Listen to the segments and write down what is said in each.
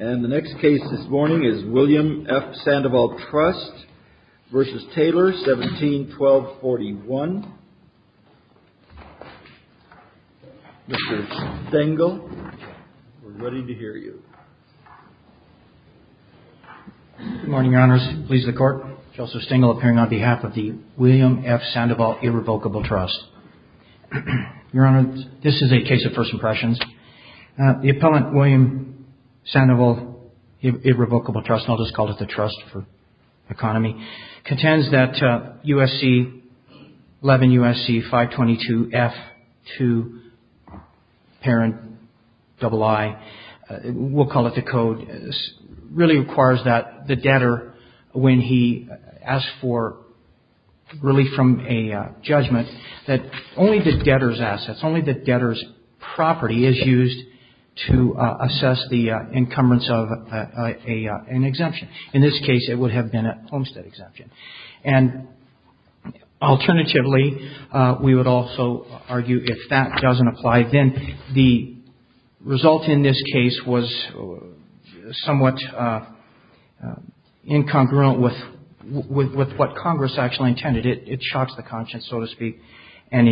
171241. Mr. Stengel, we're ready to hear you. Good morning, Your Honors. Pleased to the Court. Justice Stengel appearing on behalf of the William F. Sandoval Irrevocable Trust. Your Honor, this is a case of first impressions. The first impression is that the plaintiff's attorney, Mr. Stengel, the appellant, William Sandoval Irrevocable Trust, and I'll just call it the Trust for Economy, contends that USC 11 USC 522 F2 parent double I, we'll call it the code, really requires that the debtor, when he asks for relief from a judgment, that only the debtor's assets, only the debtor's property is used to assess the encumbrance of an exemption. In this case, it would have been a homestead exemption. And alternatively, we would also argue if that doesn't apply, then the result in this case was somewhat incongruent with what Congress actually intended. It shocks the conscience, so to speak. And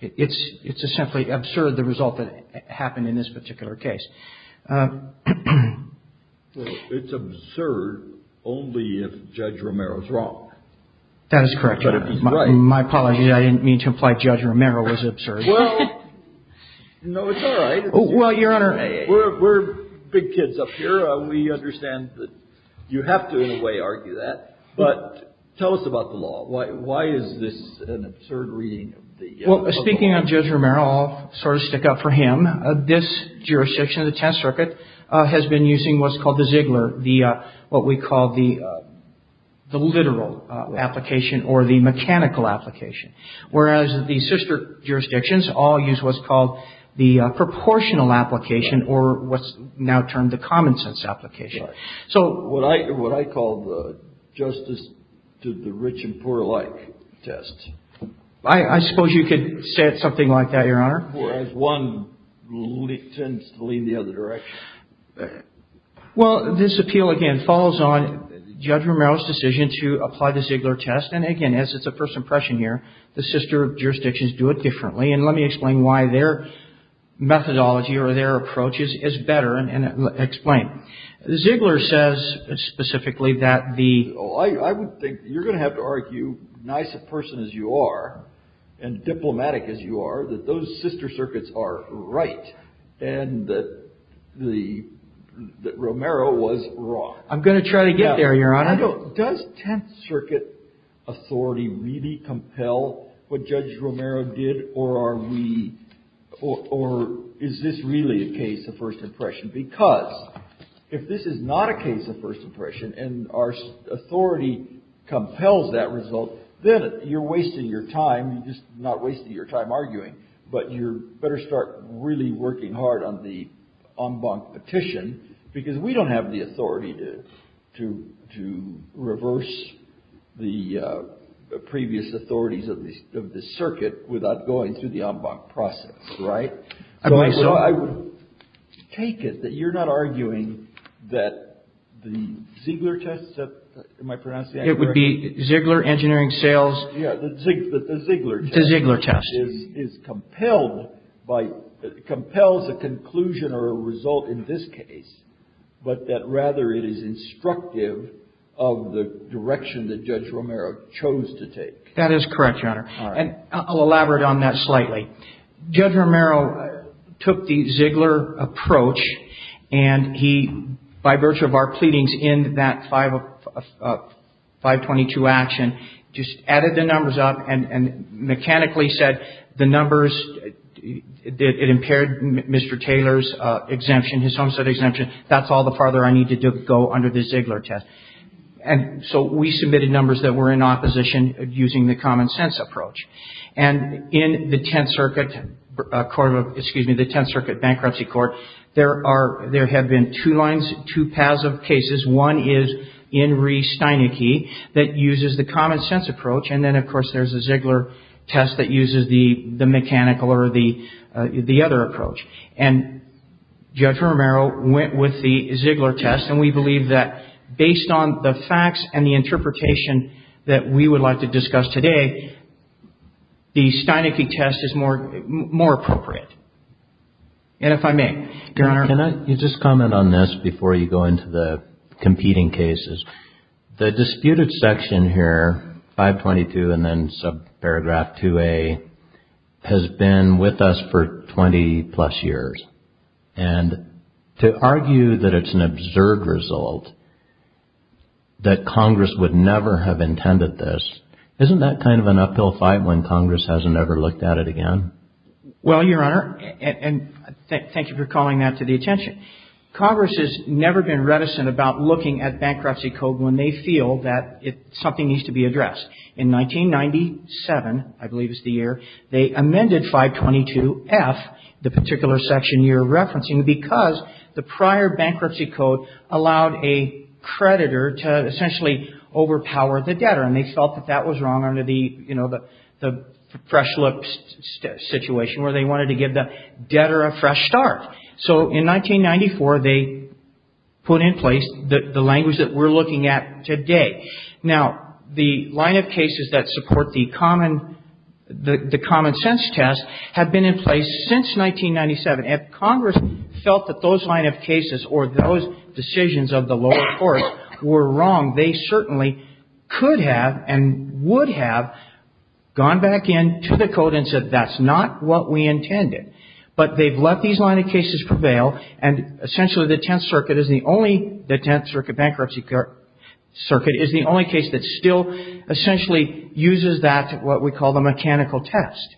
it's simply absurd, the result that happened in this particular case. It's absurd only if Judge Romero's wrong. That is correct, Your Honor. My apologies. I didn't mean to imply Judge Romero was absurd. Well, no, it's all right. Well, Your Honor. We're big kids up here. We understand that you have to, in a way, argue that. But tell us about the law. Why is this an absurd reading of the law? Well, speaking of Judge Romero, I'll sort of stick up for him. This jurisdiction, the Tenth Circuit, has been using what's called the Ziegler, what we call the literal application or the mechanical application. Whereas the sister jurisdictions all use what's called the proportional application or what's now termed the common sense application. So what I call the justice to the rich and poor alike test. I suppose you could say something like that, Your Honor. Whereas one tends to lean the other direction. Well, this appeal, again, falls on Judge Romero's decision to apply the Ziegler test. And again, as it's a first impression here, the sister jurisdictions do it differently. And let me explain why their methodology or their approach is better and explain. Ziegler says specifically that the. I would think you're going to have to argue, nice a person as you are and diplomatic as you are, that those sister circuits are right. And that Romero was wrong. I'm going to try to get there, Your Honor. Does Tenth Circuit authority really compel what Judge Romero did or are we or is this really a case of first impression? Because if this is not a case of first impression and our authority compels that result, then you're wasting your time. You're just not wasting your time arguing. But you better start really working hard on the en banc petition because we don't have the authority to to to reverse the previous authorities of the circuit without going through the en banc process. Right. So I would take it that you're not arguing that the Ziegler test. Am I pronouncing that correctly? It would be Ziegler engineering sales. Yeah, the Ziegler test. The Ziegler test. Is compelled by, compels a conclusion or a result in this case, but that rather it is instructive of the direction that Judge Romero chose to take. That is correct, Your Honor. All right. And I'll elaborate on that slightly. Judge Romero took the Ziegler approach and he, by virtue of our pleadings in that 522 action, just added the numbers up and mechanically said the numbers, it impaired Mr. Taylor's exemption, his homestead exemption. That's all the farther I need to go under the Ziegler test. And so we submitted numbers that were in opposition using the common sense approach. And in the Tenth Circuit Court of, excuse me, the Tenth Circuit Bankruptcy Court, there are, there have been two lines, two paths of cases. One is in Ree Steineke that uses the common sense approach. And then, of course, there's a Ziegler test that uses the mechanical or the other approach. And Judge Romero went with the Ziegler test and we believe that based on the facts and the interpretation that we would like to discuss today, the Steineke test is more appropriate. And if I may, Your Honor. Can I just comment on this before you go into the competing cases? The disputed section here, 522 and then subparagraph 2A, has been with us for 20 plus years. And to argue that it's an absurd result, that Congress would never have intended this, isn't that kind of an uphill fight when Congress hasn't ever looked at it again? Well, Your Honor, and thank you for calling that to the attention. Congress has never been reticent about looking at bankruptcy code when they feel that something needs to be addressed. In 1997, I believe is the year, they amended 522F, the particular section you're referencing, because the prior bankruptcy code allowed a creditor to essentially give the debtor a fresh start. So in 1994, they put in place the language that we're looking at today. Now, the line of cases that support the common sense test have been in place since 1997. If Congress felt that those line of cases or those decisions of the lower courts were wrong, they certainly could have and would have gone back in to the But they've let these line of cases prevail, and essentially the Tenth Circuit is the only, the Tenth Circuit Bankruptcy Circuit is the only case that still essentially uses that, what we call the mechanical test.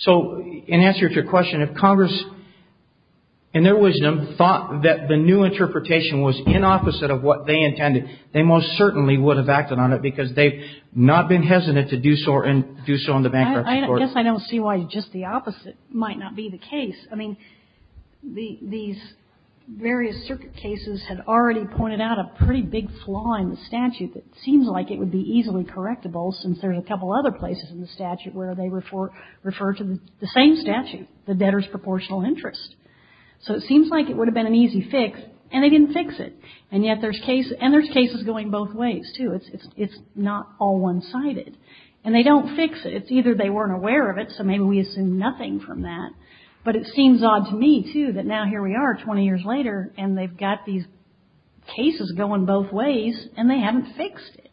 So in answer to your question, if Congress, in their wisdom, thought that the new interpretation was inopposite of what they intended, they most certainly would have acted on it because they've not been hesitant to do so in the bankruptcy court. I guess I don't see why just the opposite might not be the case. I mean, these various circuit cases have already pointed out a pretty big flaw in the statute that seems like it would be easily correctable since there are a couple other places in the statute where they refer to the same statute, the debtor's proportional interest. So it seems like it would have been an easy fix, and they didn't fix it. And yet there's cases going both ways, too. It's not all one-sided. And they don't fix it. Either they weren't aware of it, so maybe we assume nothing from that. But it seems odd to me, too, that now here we are 20 years later, and they've got these cases going both ways, and they haven't fixed it.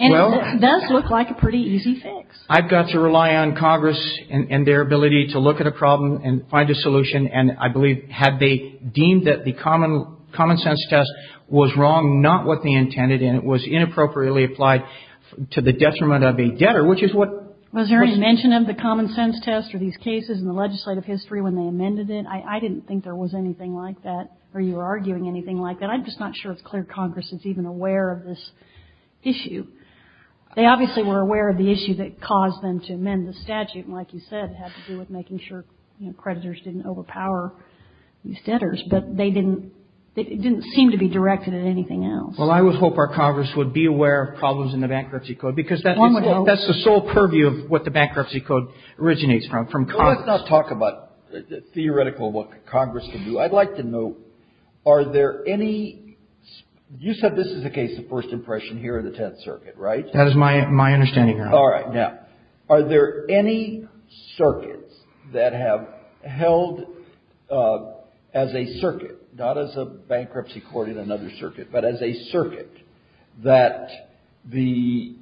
And it does look like a pretty easy fix. I've got to rely on Congress and their ability to look at a problem and find a solution. And I believe had they deemed that the common sense test was wrong, not what they intended, and it was inappropriately applied to the detriment of a debtor, which is what was ---- Was there any mention of the common sense test or these cases in the legislative history when they amended it? I didn't think there was anything like that or you were arguing anything like that. I'm just not sure it's clear Congress is even aware of this issue. They obviously were aware of the issue that caused them to amend the statute, and like you said, it had to do with making sure creditors didn't overpower these debtors. But they didn't seem to be directed at anything else. Well, I would hope our Congress would be aware of problems in the bankruptcy code because that's the sole purview of what the bankruptcy code originates from, from Congress. Let's not talk about theoretical what Congress can do. I'd like to know are there any ---- You said this is a case of first impression here in the Tenth Circuit, right? That is my understanding, Your Honor. All right. Now, are there any circuits that have held as a circuit, not as a bankruptcy court in another circuit, but as a circuit that the,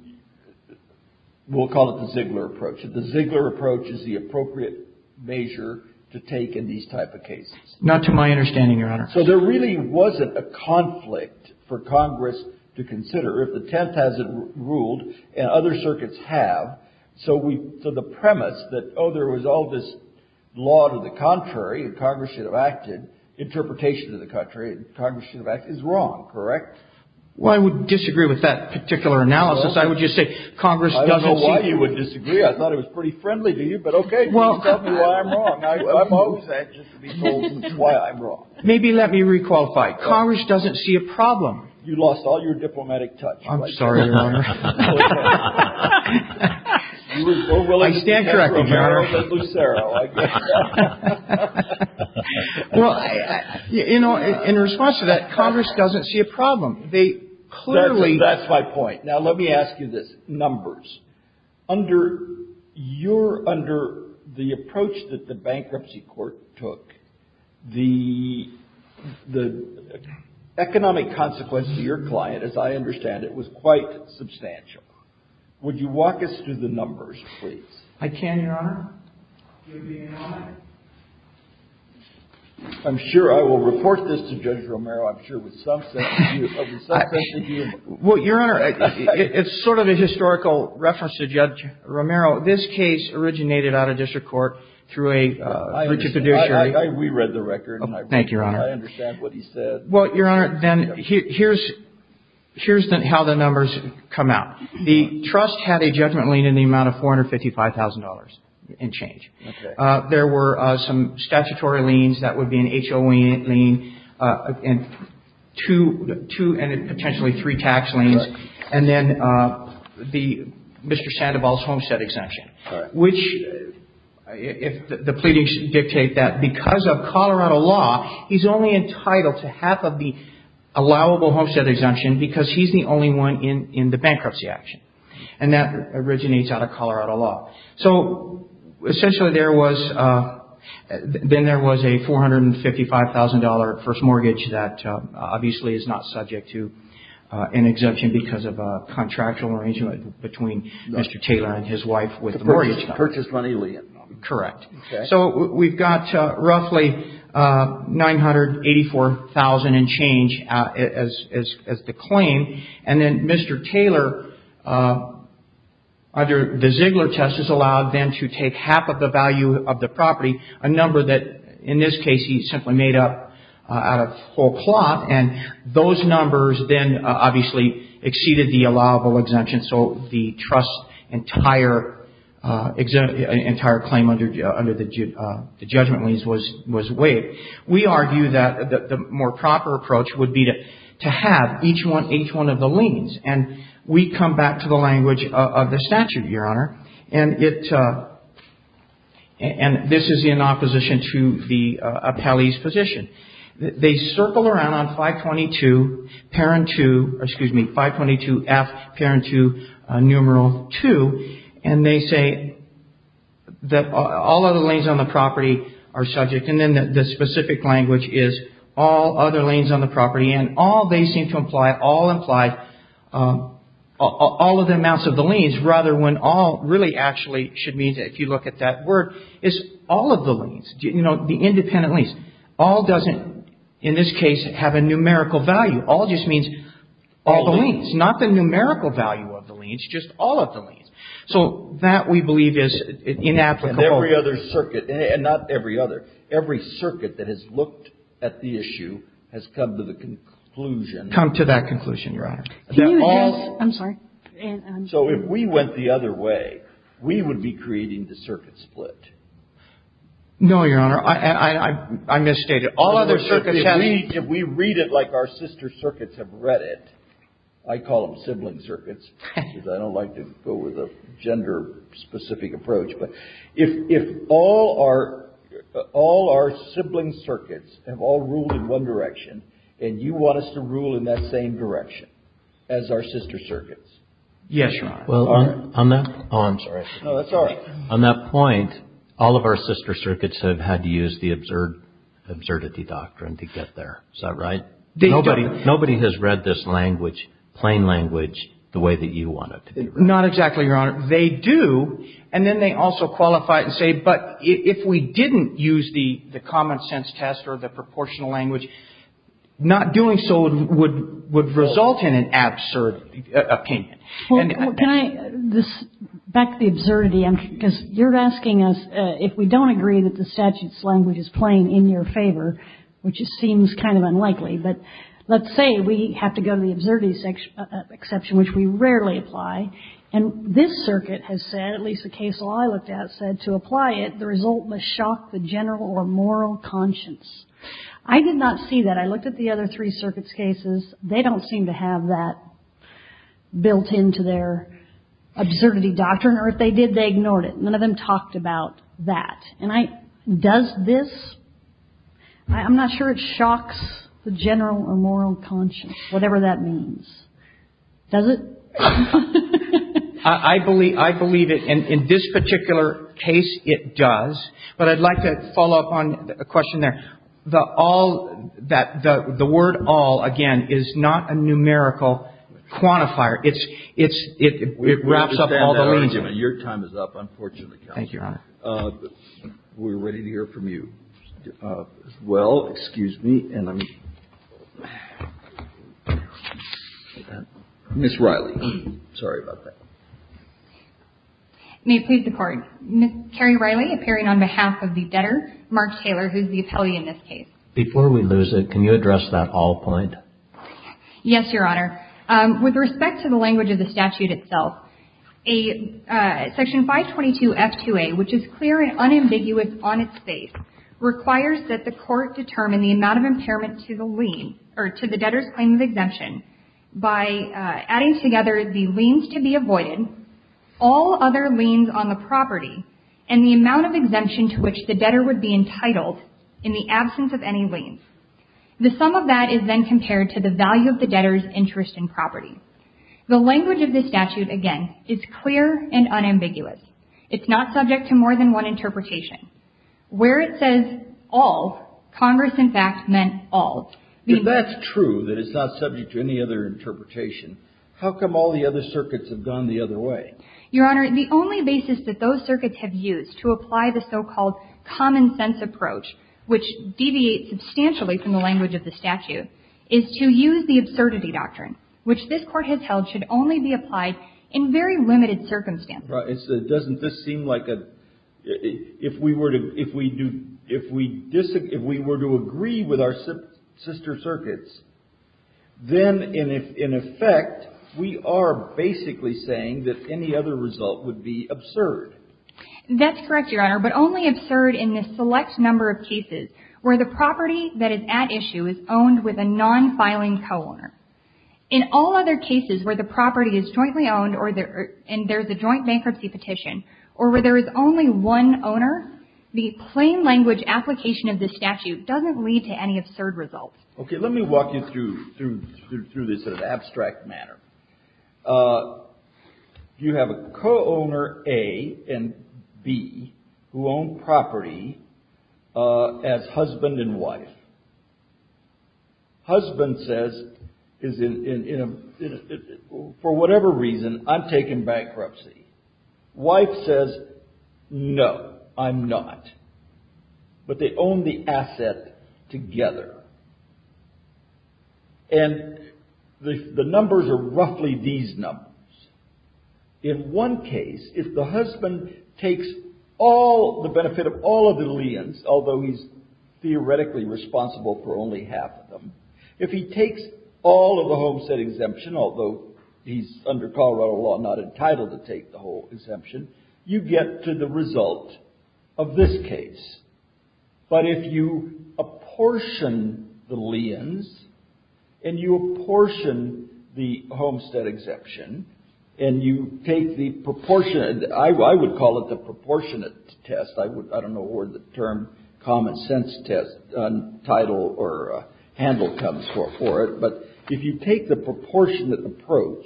we'll call it the Ziegler approach, that the Ziegler approach is the appropriate measure to take in these type of cases? Not to my understanding, Your Honor. So there really wasn't a conflict for Congress to consider if the Tenth hasn't ruled and other circuits have. So we, so the premise that, oh, there was all this law to the contrary and Congress should have acted, interpretation to the contrary and Congress should have acted is wrong, correct? Well, I would disagree with that particular analysis. I would just say Congress doesn't see. I don't know why you would disagree. I thought it was pretty friendly to you. But, okay, please tell me why I'm wrong. I'm opposed to that just to be told why I'm wrong. Maybe let me re-qualify. Congress doesn't see a problem. I'm sorry, Your Honor. I stand corrected, Your Honor. Well, you know, in response to that, Congress doesn't see a problem. They clearly. That's my point. Now, let me ask you this. Numbers. Under your, under the approach that the Bankruptcy Court took, the economic consequence to your client, as I understand it, was quite substantial. Would you walk us through the numbers, please? I can, Your Honor. Give me a moment. I'm sure I will report this to Judge Romero. I'm sure with some sense of you. Well, Your Honor, it's sort of a historical reference to Judge Romero. This case originated out of district court through a fiduciary. We read the record. Thank you, Your Honor. I understand what he said. Well, Your Honor, then here's how the numbers come out. The trust had a judgment lien in the amount of $455,000 and change. Okay. There were some statutory liens. That would be an HOA lien and two, and potentially three tax liens. Correct. And then the, Mr. Sandoval's homestead exemption. Correct. Which, if the pleadings dictate that because of Colorado law, he's only entitled to half of the allowable homestead exemption because he's the only one in the bankruptcy action. And that originates out of Colorado law. So, essentially there was, then there was a $455,000 first mortgage that obviously is not subject to an exemption because of a contractual arrangement between Mr. Taylor and his wife with the mortgage. Purchased money lien. Correct. Okay. So, we've got roughly $984,000 in change as the claim. And then Mr. Taylor, under the Ziegler test, is allowed then to take half of the value of the property, a number that, in this case, he simply made up out of whole cloth. And those numbers then obviously exceeded the allowable exemption. So, the trust's entire claim under the judgment liens was waived. We argue that the more proper approach would be to have each one of the liens. And we come back to the language of the statute, Your Honor. And it, and this is in opposition to the appellee's position. They circle around on 522, parent to, excuse me, 522F, parent to numeral 2. And they say that all other liens on the property are subject. And then the specific language is all other liens on the property. And all they seem to imply, all imply, all of the amounts of the liens, rather when all really actually should mean that if you look at that word, it's all of the liens. You know, the independent liens. All doesn't, in this case, have a numerical value. All just means all the liens. Not the numerical value of the liens, just all of the liens. So, that we believe is inapplicable. And every other circuit, and not every other, every circuit that has looked at the issue has come to the conclusion. Come to that conclusion, Your Honor. Can you just, I'm sorry. So, if we went the other way, we would be creating the circuit split. No, Your Honor. I misstated. If we read it like our sister circuits have read it, I call them sibling circuits, because I don't like to go with a gender-specific approach. But if all our sibling circuits have all ruled in one direction, and you want us to rule in that same direction as our sister circuits. Yes, Your Honor. Oh, I'm sorry. No, that's all right. On that point, all of our sister circuits have had to use the absurdity doctrine to get there. Is that right? Nobody has read this language, plain language, the way that you want it to be read. Not exactly, Your Honor. They do, and then they also qualify it and say, but if we didn't use the common sense test or the proportional language, not doing so would result in an absurd opinion. Well, can I back the absurdity? Because you're asking us if we don't agree that the statute's language is plain in your favor, which seems kind of unlikely. But let's say we have to go to the absurdity exception, which we rarely apply. And this circuit has said, at least the case law I looked at said to apply it, the result must shock the general or moral conscience. I did not see that. I looked at the other three circuits' cases. They don't seem to have that built into their absurdity doctrine. Or if they did, they ignored it. None of them talked about that. And does this? I'm not sure it shocks the general or moral conscience, whatever that means. Does it? I believe it. In this particular case, it does. But I'd like to follow up on a question there. The word all, again, is not a numerical quantifier. It wraps up all the meaning. We understand that argument. Your time is up, unfortunately, counsel. Thank you, Your Honor. We're ready to hear from you. Well, excuse me. Ms. Riley, sorry about that. May it please the Court. Ms. Carrie Riley, appearing on behalf of the debtor, Mark Taylor, who's the appellee in this case. Before we lose it, can you address that all point? Yes, Your Honor. With respect to the language of the statute itself, Section 522F2A, which is clear and unambiguous on its face, requires that the Court determine the amount of impairment to the lien or to the debtor's claim of exemption by adding together the liens to be avoided, all other liens on the property, and the amount of exemption to which the debtor would be entitled in the absence of any liens. The sum of that is then compared to the value of the debtor's interest in property. The language of this statute, again, is clear and unambiguous. It's not subject to more than one interpretation. Where it says all, Congress, in fact, meant all. If that's true, that it's not subject to any other interpretation, how come all the other circuits have gone the other way? Your Honor, the only basis that those circuits have used to apply the so-called common sense approach, which deviates substantially from the language of the statute, is to use the absurdity doctrine, which this Court has held should only be applied in very limited circumstances. It doesn't just seem like a – if we were to agree with our sister circuits, then in effect we are basically saying that any other result would be absurd. That's correct, Your Honor, but only absurd in the select number of cases where the property that is at issue is owned with a non-filing co-owner. In all other cases where the property is jointly owned and there's a joint bankruptcy petition, or where there is only one owner, the plain language application of this statute doesn't lead to any absurd results. Okay, let me walk you through this in an abstract manner. You have a co-owner, A, and B, who own property as husband and wife. Husband says, for whatever reason, I'm taking bankruptcy. Wife says, no, I'm not. But they own the asset together. And the numbers are roughly these numbers. In one case, if the husband takes all the benefit of all of the liens, although he's theoretically responsible for only half of them, if he takes all of the homestead exemption, although he's under Colorado law not entitled to take the whole exemption, you get to the result of this case. But if you apportion the liens and you apportion the homestead exemption and you take the proportionate, I would call it the proportionate test. I don't know where the term common sense test title or handle comes for it. But if you take the proportionate approach,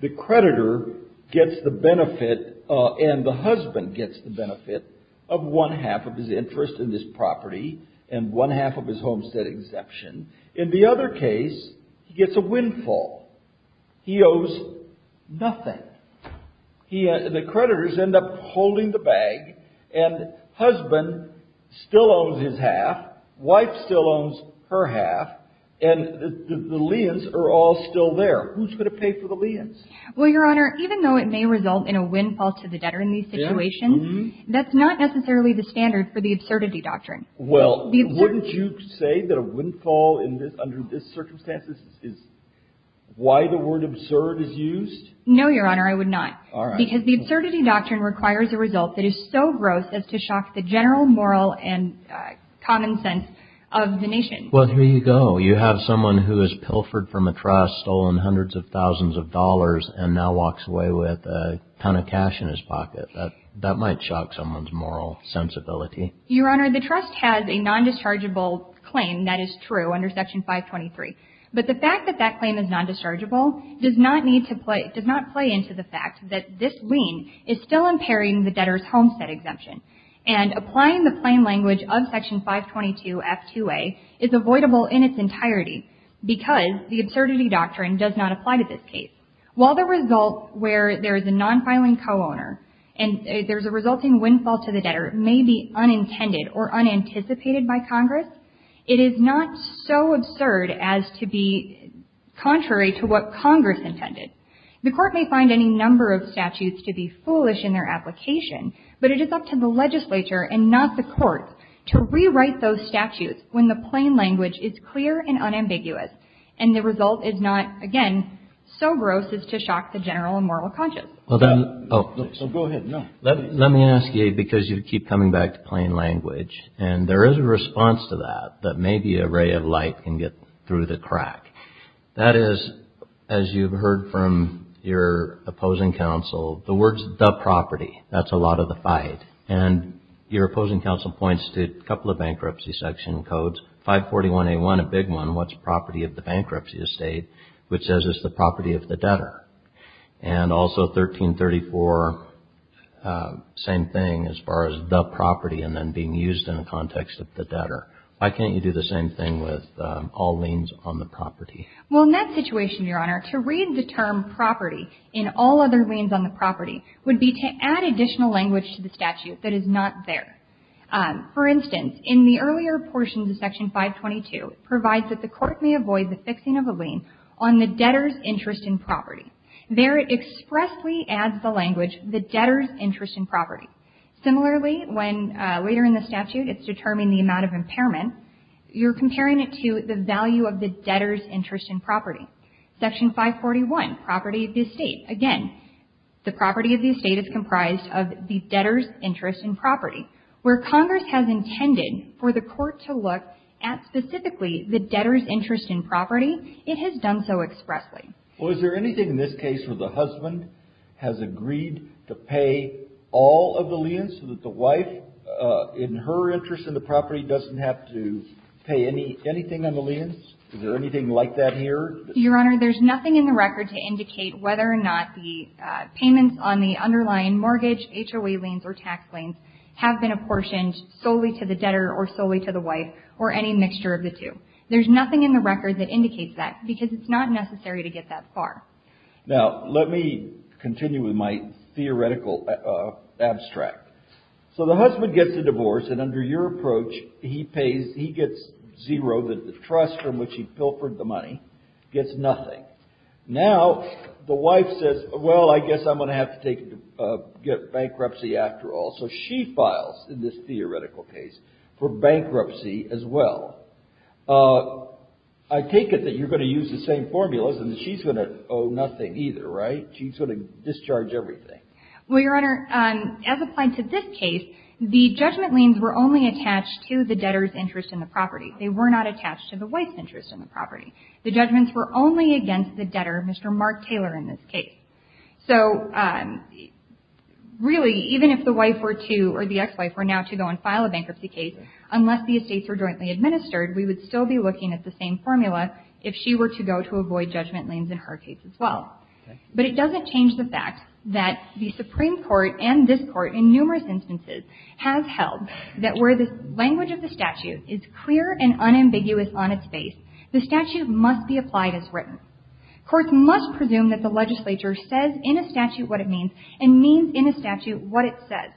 the creditor gets the benefit and the husband gets the benefit of one half of his interest in this property and one half of his homestead exemption. In the other case, he gets a windfall. He owes nothing. The creditors end up holding the bag and husband still owns his half. Wife still owns her half. And the liens are all still there. Who's going to pay for the liens? Well, Your Honor, even though it may result in a windfall to the debtor in these situations, that's not necessarily the standard for the absurdity doctrine. Well, wouldn't you say that a windfall under this circumstance is why the word absurd is used? No, Your Honor, I would not. All right. Because the absurdity doctrine requires a result that is so gross as to shock the general moral and common sense of the nation. Well, here you go. You have someone who is pilfered from a trust, stolen hundreds of thousands of dollars, and now walks away with a ton of cash in his pocket. That might shock someone's moral sensibility. Your Honor, the trust has a non-dischargeable claim. That is true under Section 523. But the fact that that claim is non-dischargeable does not need to play, does not play into the fact that this lien is still impairing the debtor's homestead exemption. And applying the plain language of Section 522F2A is avoidable in its entirety because the absurdity doctrine does not apply to this case. While the result where there is a non-filing co-owner and there's a resulting windfall to the debtor may be unintended or unanticipated by Congress, it is not so absurd as to be contrary to what Congress intended. The Court may find any number of statutes to be foolish in their application, but it is up to the legislature and not the courts to rewrite those statutes when the plain language is clear and unambiguous and the result is not, again, so gross as to shock the general moral conscience. Let me ask you, because you keep coming back to plain language, and there is a response to that, that maybe a ray of light can get through the crack. That is, as you've heard from your opposing counsel, the words the property, that's a lot of the fight. And your opposing counsel points to a couple of bankruptcy section codes, 541A1, a big one, what's property of the bankruptcy estate, which says it's the property of the debtor. And also 1334, same thing as far as the property and then being used in the context of the debtor. Why can't you do the same thing with all liens on the property? Well, in that situation, Your Honor, to read the term property in all other liens on the property would be to add additional language to the statute that is not there. For instance, in the earlier portions of Section 522, it provides that the court may avoid the fixing of a lien on the debtor's interest in property. There it expressly adds the language, the debtor's interest in property. Similarly, when later in the statute it's determining the amount of impairment, you're comparing it to the value of the debtor's interest in property. Section 541, property of the estate. Again, the property of the estate is comprised of the debtor's interest in property, where Congress has intended for the court to look at specifically the debtor's interest in property, it has done so expressly. Well, is there anything in this case where the husband has agreed to pay all of the liens so that the wife, in her interest in the property, doesn't have to pay anything on the liens? Is there anything like that here? Your Honor, there's nothing in the record to indicate whether or not the payments on the underlying mortgage, HOA liens, or tax liens have been apportioned solely to the debtor or solely to the wife or any mixture of the two. There's nothing in the record that indicates that because it's not necessary to get that far. Now, let me continue with my theoretical abstract. So the husband gets a divorce, and under your approach, he pays, he gets zero, the trust from which he pilfered the money gets nothing. Now, the wife says, well, I guess I'm going to have to get bankruptcy after all. So she files, in this theoretical case, for bankruptcy as well. I take it that you're going to use the same formulas and she's going to owe nothing either, right? She's going to discharge everything. Well, Your Honor, as applied to this case, the judgment liens were only attached to the debtor's interest in the property. They were not attached to the wife's interest in the property. The judgments were only against the debtor, Mr. Mark Taylor, in this case. So really, even if the wife were to or the ex-wife were now to go and file a bankruptcy case, unless the estates were jointly administered, we would still be looking at the same formula if she were to go to avoid judgment liens in her case as well. But it doesn't change the fact that the Supreme Court and this Court in numerous instances have held that where the language of the statute is clear and unambiguous on its face, the statute must be applied as written. Courts must presume that the legislature says in a statute what it means and means in a statute what it says.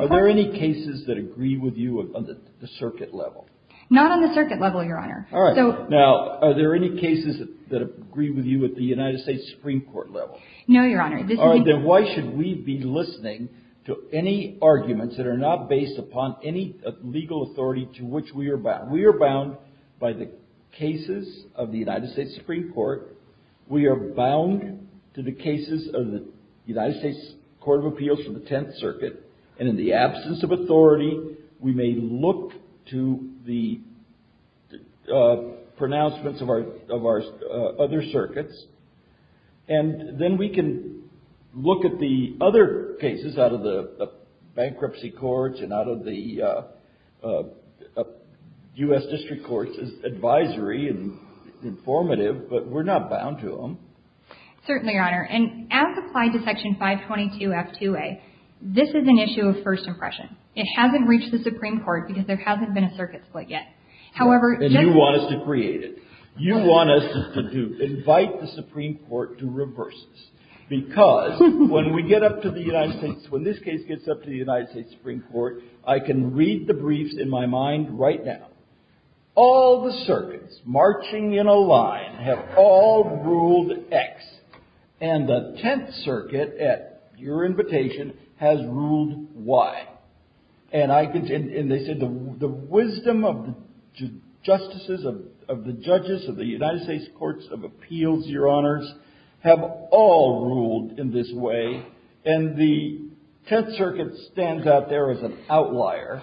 Are there any cases that agree with you on the circuit level? Not on the circuit level, Your Honor. All right. Now, are there any cases that agree with you at the United States Supreme Court level? No, Your Honor. All right. Then why should we be listening to any arguments that are not based upon any legal authority to which we are bound? We are bound by the cases of the United States Supreme Court. We are bound to the cases of the United States Court of Appeals from the Tenth Circuit. And in the absence of authority, we may look to the pronouncements of our other circuits. And then we can look at the other cases out of the bankruptcy courts and out of the U.S. district courts as advisory and informative. But we're not bound to them. Certainly, Your Honor. And as applied to Section 522F2A, this is an issue of first impression. It hasn't reached the Supreme Court because there hasn't been a circuit split yet. And you want us to create it. You want us to invite the Supreme Court to reverse this. Because when we get up to the United States, when this case gets up to the United States Supreme Court, I can read the briefs in my mind right now. All the circuits marching in a line have all ruled X. And the Tenth Circuit, at your invitation, has ruled Y. And they said the wisdom of the justices, of the judges, of the United States Courts of Appeals, Your Honors, have all ruled in this way. And the Tenth Circuit stands out there as an outlier.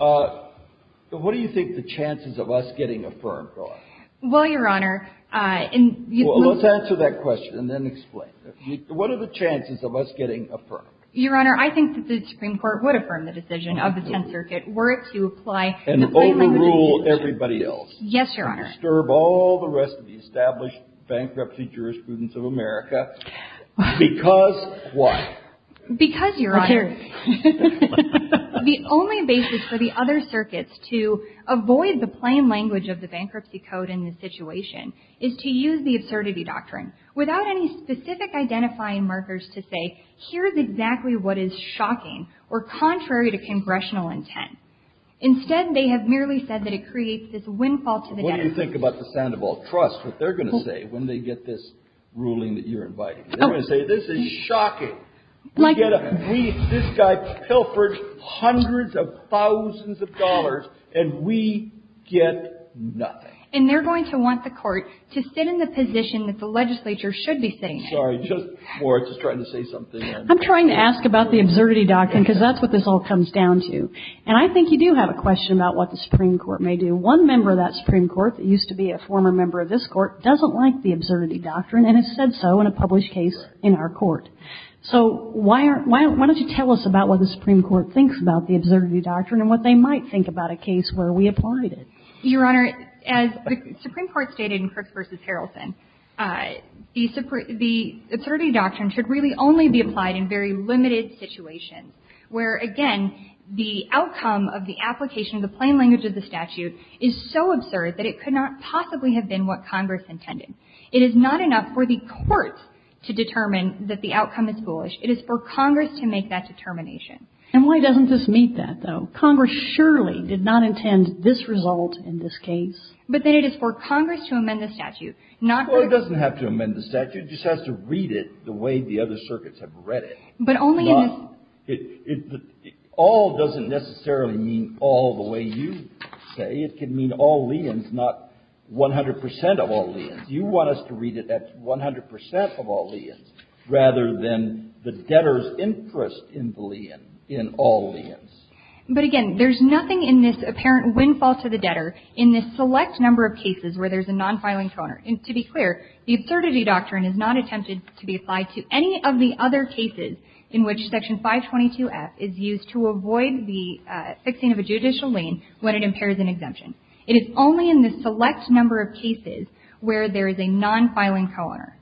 What do you think the chances of us getting affirmed are? Well, Your Honor, in the... Well, let's answer that question and then explain. What are the chances of us getting affirmed? Your Honor, I think that the Supreme Court would affirm the decision of the Tenth Circuit were it to apply... And overrule everybody else. Yes, Your Honor. And disturb all the rest of the established bankruptcy jurisprudence of America. Because what? Because, Your Honor, the only basis for the other circuits to avoid the plain language of the bankruptcy code in this situation is to use the absurdity doctrine. Without any specific identifying markers to say, here's exactly what is shocking or contrary to congressional intent. Instead, they have merely said that it creates this windfall to the... What do you think about the Sandoval Trust, what they're going to say when they get this ruling that you're inviting? They're going to say, this is shocking. Like... We get a... This guy pilfered hundreds of thousands of dollars, and we get nothing. And they're going to want the court to sit in the position that the legislature should be sitting in. I'm sorry. Just... I was just trying to say something. I'm trying to ask about the absurdity doctrine, because that's what this all comes down to. And I think you do have a question about what the Supreme Court may do. One member of that Supreme Court that used to be a former member of this Court doesn't like the absurdity doctrine, and has said so in a published case in our court. So why aren't... Why don't you tell us about what the Supreme Court thinks about the absurdity doctrine and what they might think about a case where we applied it? Your Honor, as the Supreme Court stated in Crooks v. Harrelson, the absurdity doctrine should really only be applied in very limited situations, where, again, the outcome of the application of the plain language of the statute is so absurd that it could not possibly have been what Congress intended. It is not enough for the courts to determine that the outcome is foolish. It is for Congress to make that determination. And why doesn't this meet that, though? Congress surely did not intend this result in this case. But then it is for Congress to amend the statute, not for... Well, it doesn't have to amend the statute. It just has to read it the way the other circuits have read it. But only in this... All doesn't necessarily mean all the way you say. It can mean all liens, not 100 percent of all liens. You want us to read it at 100 percent of all liens, rather than the debtor's interest in the lien, in all liens. But, again, there's nothing in this apparent windfall to the debtor in this select number of cases where there's a non-filing co-owner. And to be clear, the absurdity doctrine is not attempted to be applied to any of the other cases in which Section 522F is used to avoid the fixing of a judicial lien when it impairs an exemption. It is only in this select number of cases where there is a non-filing co-owner.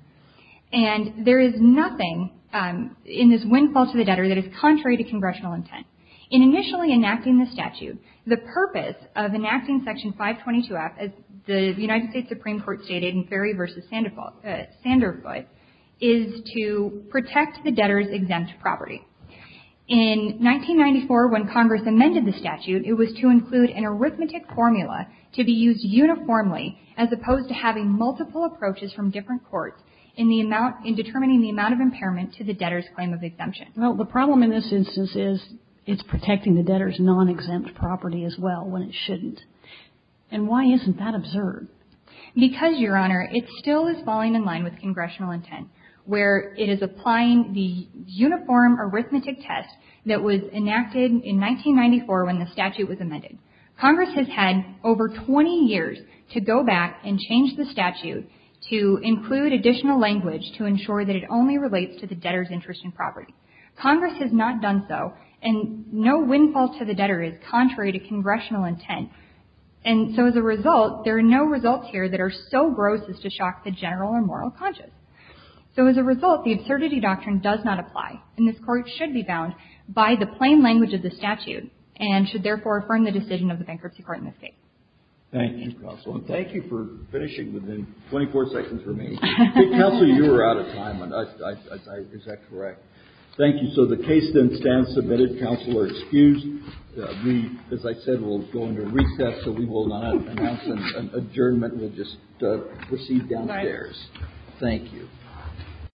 And there is nothing in this windfall to the debtor that is contrary to congressional intent. In initially enacting the statute, the purpose of enacting Section 522F, as the United States Supreme Court stated in Ferry v. Sanderfoot, is to protect the debtor's exempt property. In 1994, when Congress amended the statute, it was to include an arithmetic formula to be used uniformly, as opposed to having multiple approaches from different courts in determining the amount of impairment to the debtor's claim of exemption. Well, the problem in this instance is it's protecting the debtor's non-exempt property as well when it shouldn't. And why isn't that absurd? Because, Your Honor, it still is falling in line with congressional intent, where it is applying the uniform arithmetic test that was enacted in 1994 when the statute was amended. Congress has had over 20 years to go back and change the statute to include additional language to ensure that it only relates to the debtor. Congress has not done so, and no windfall to the debtor is contrary to congressional intent. And so, as a result, there are no results here that are so gross as to shock the general or moral conscience. So, as a result, the absurdity doctrine does not apply, and this Court should be bound by the plain language of the statute and should therefore affirm the decision of the Bankruptcy Court in this case. Thank you, Counsel. Thank you for finishing within 24 seconds for me. Counsel, you were out of time. Is that correct? Thank you. So the case then stands submitted. Counsel are excused. We, as I said, will go into recess, so we will not announce an adjournment. We'll just proceed downstairs. Thank you.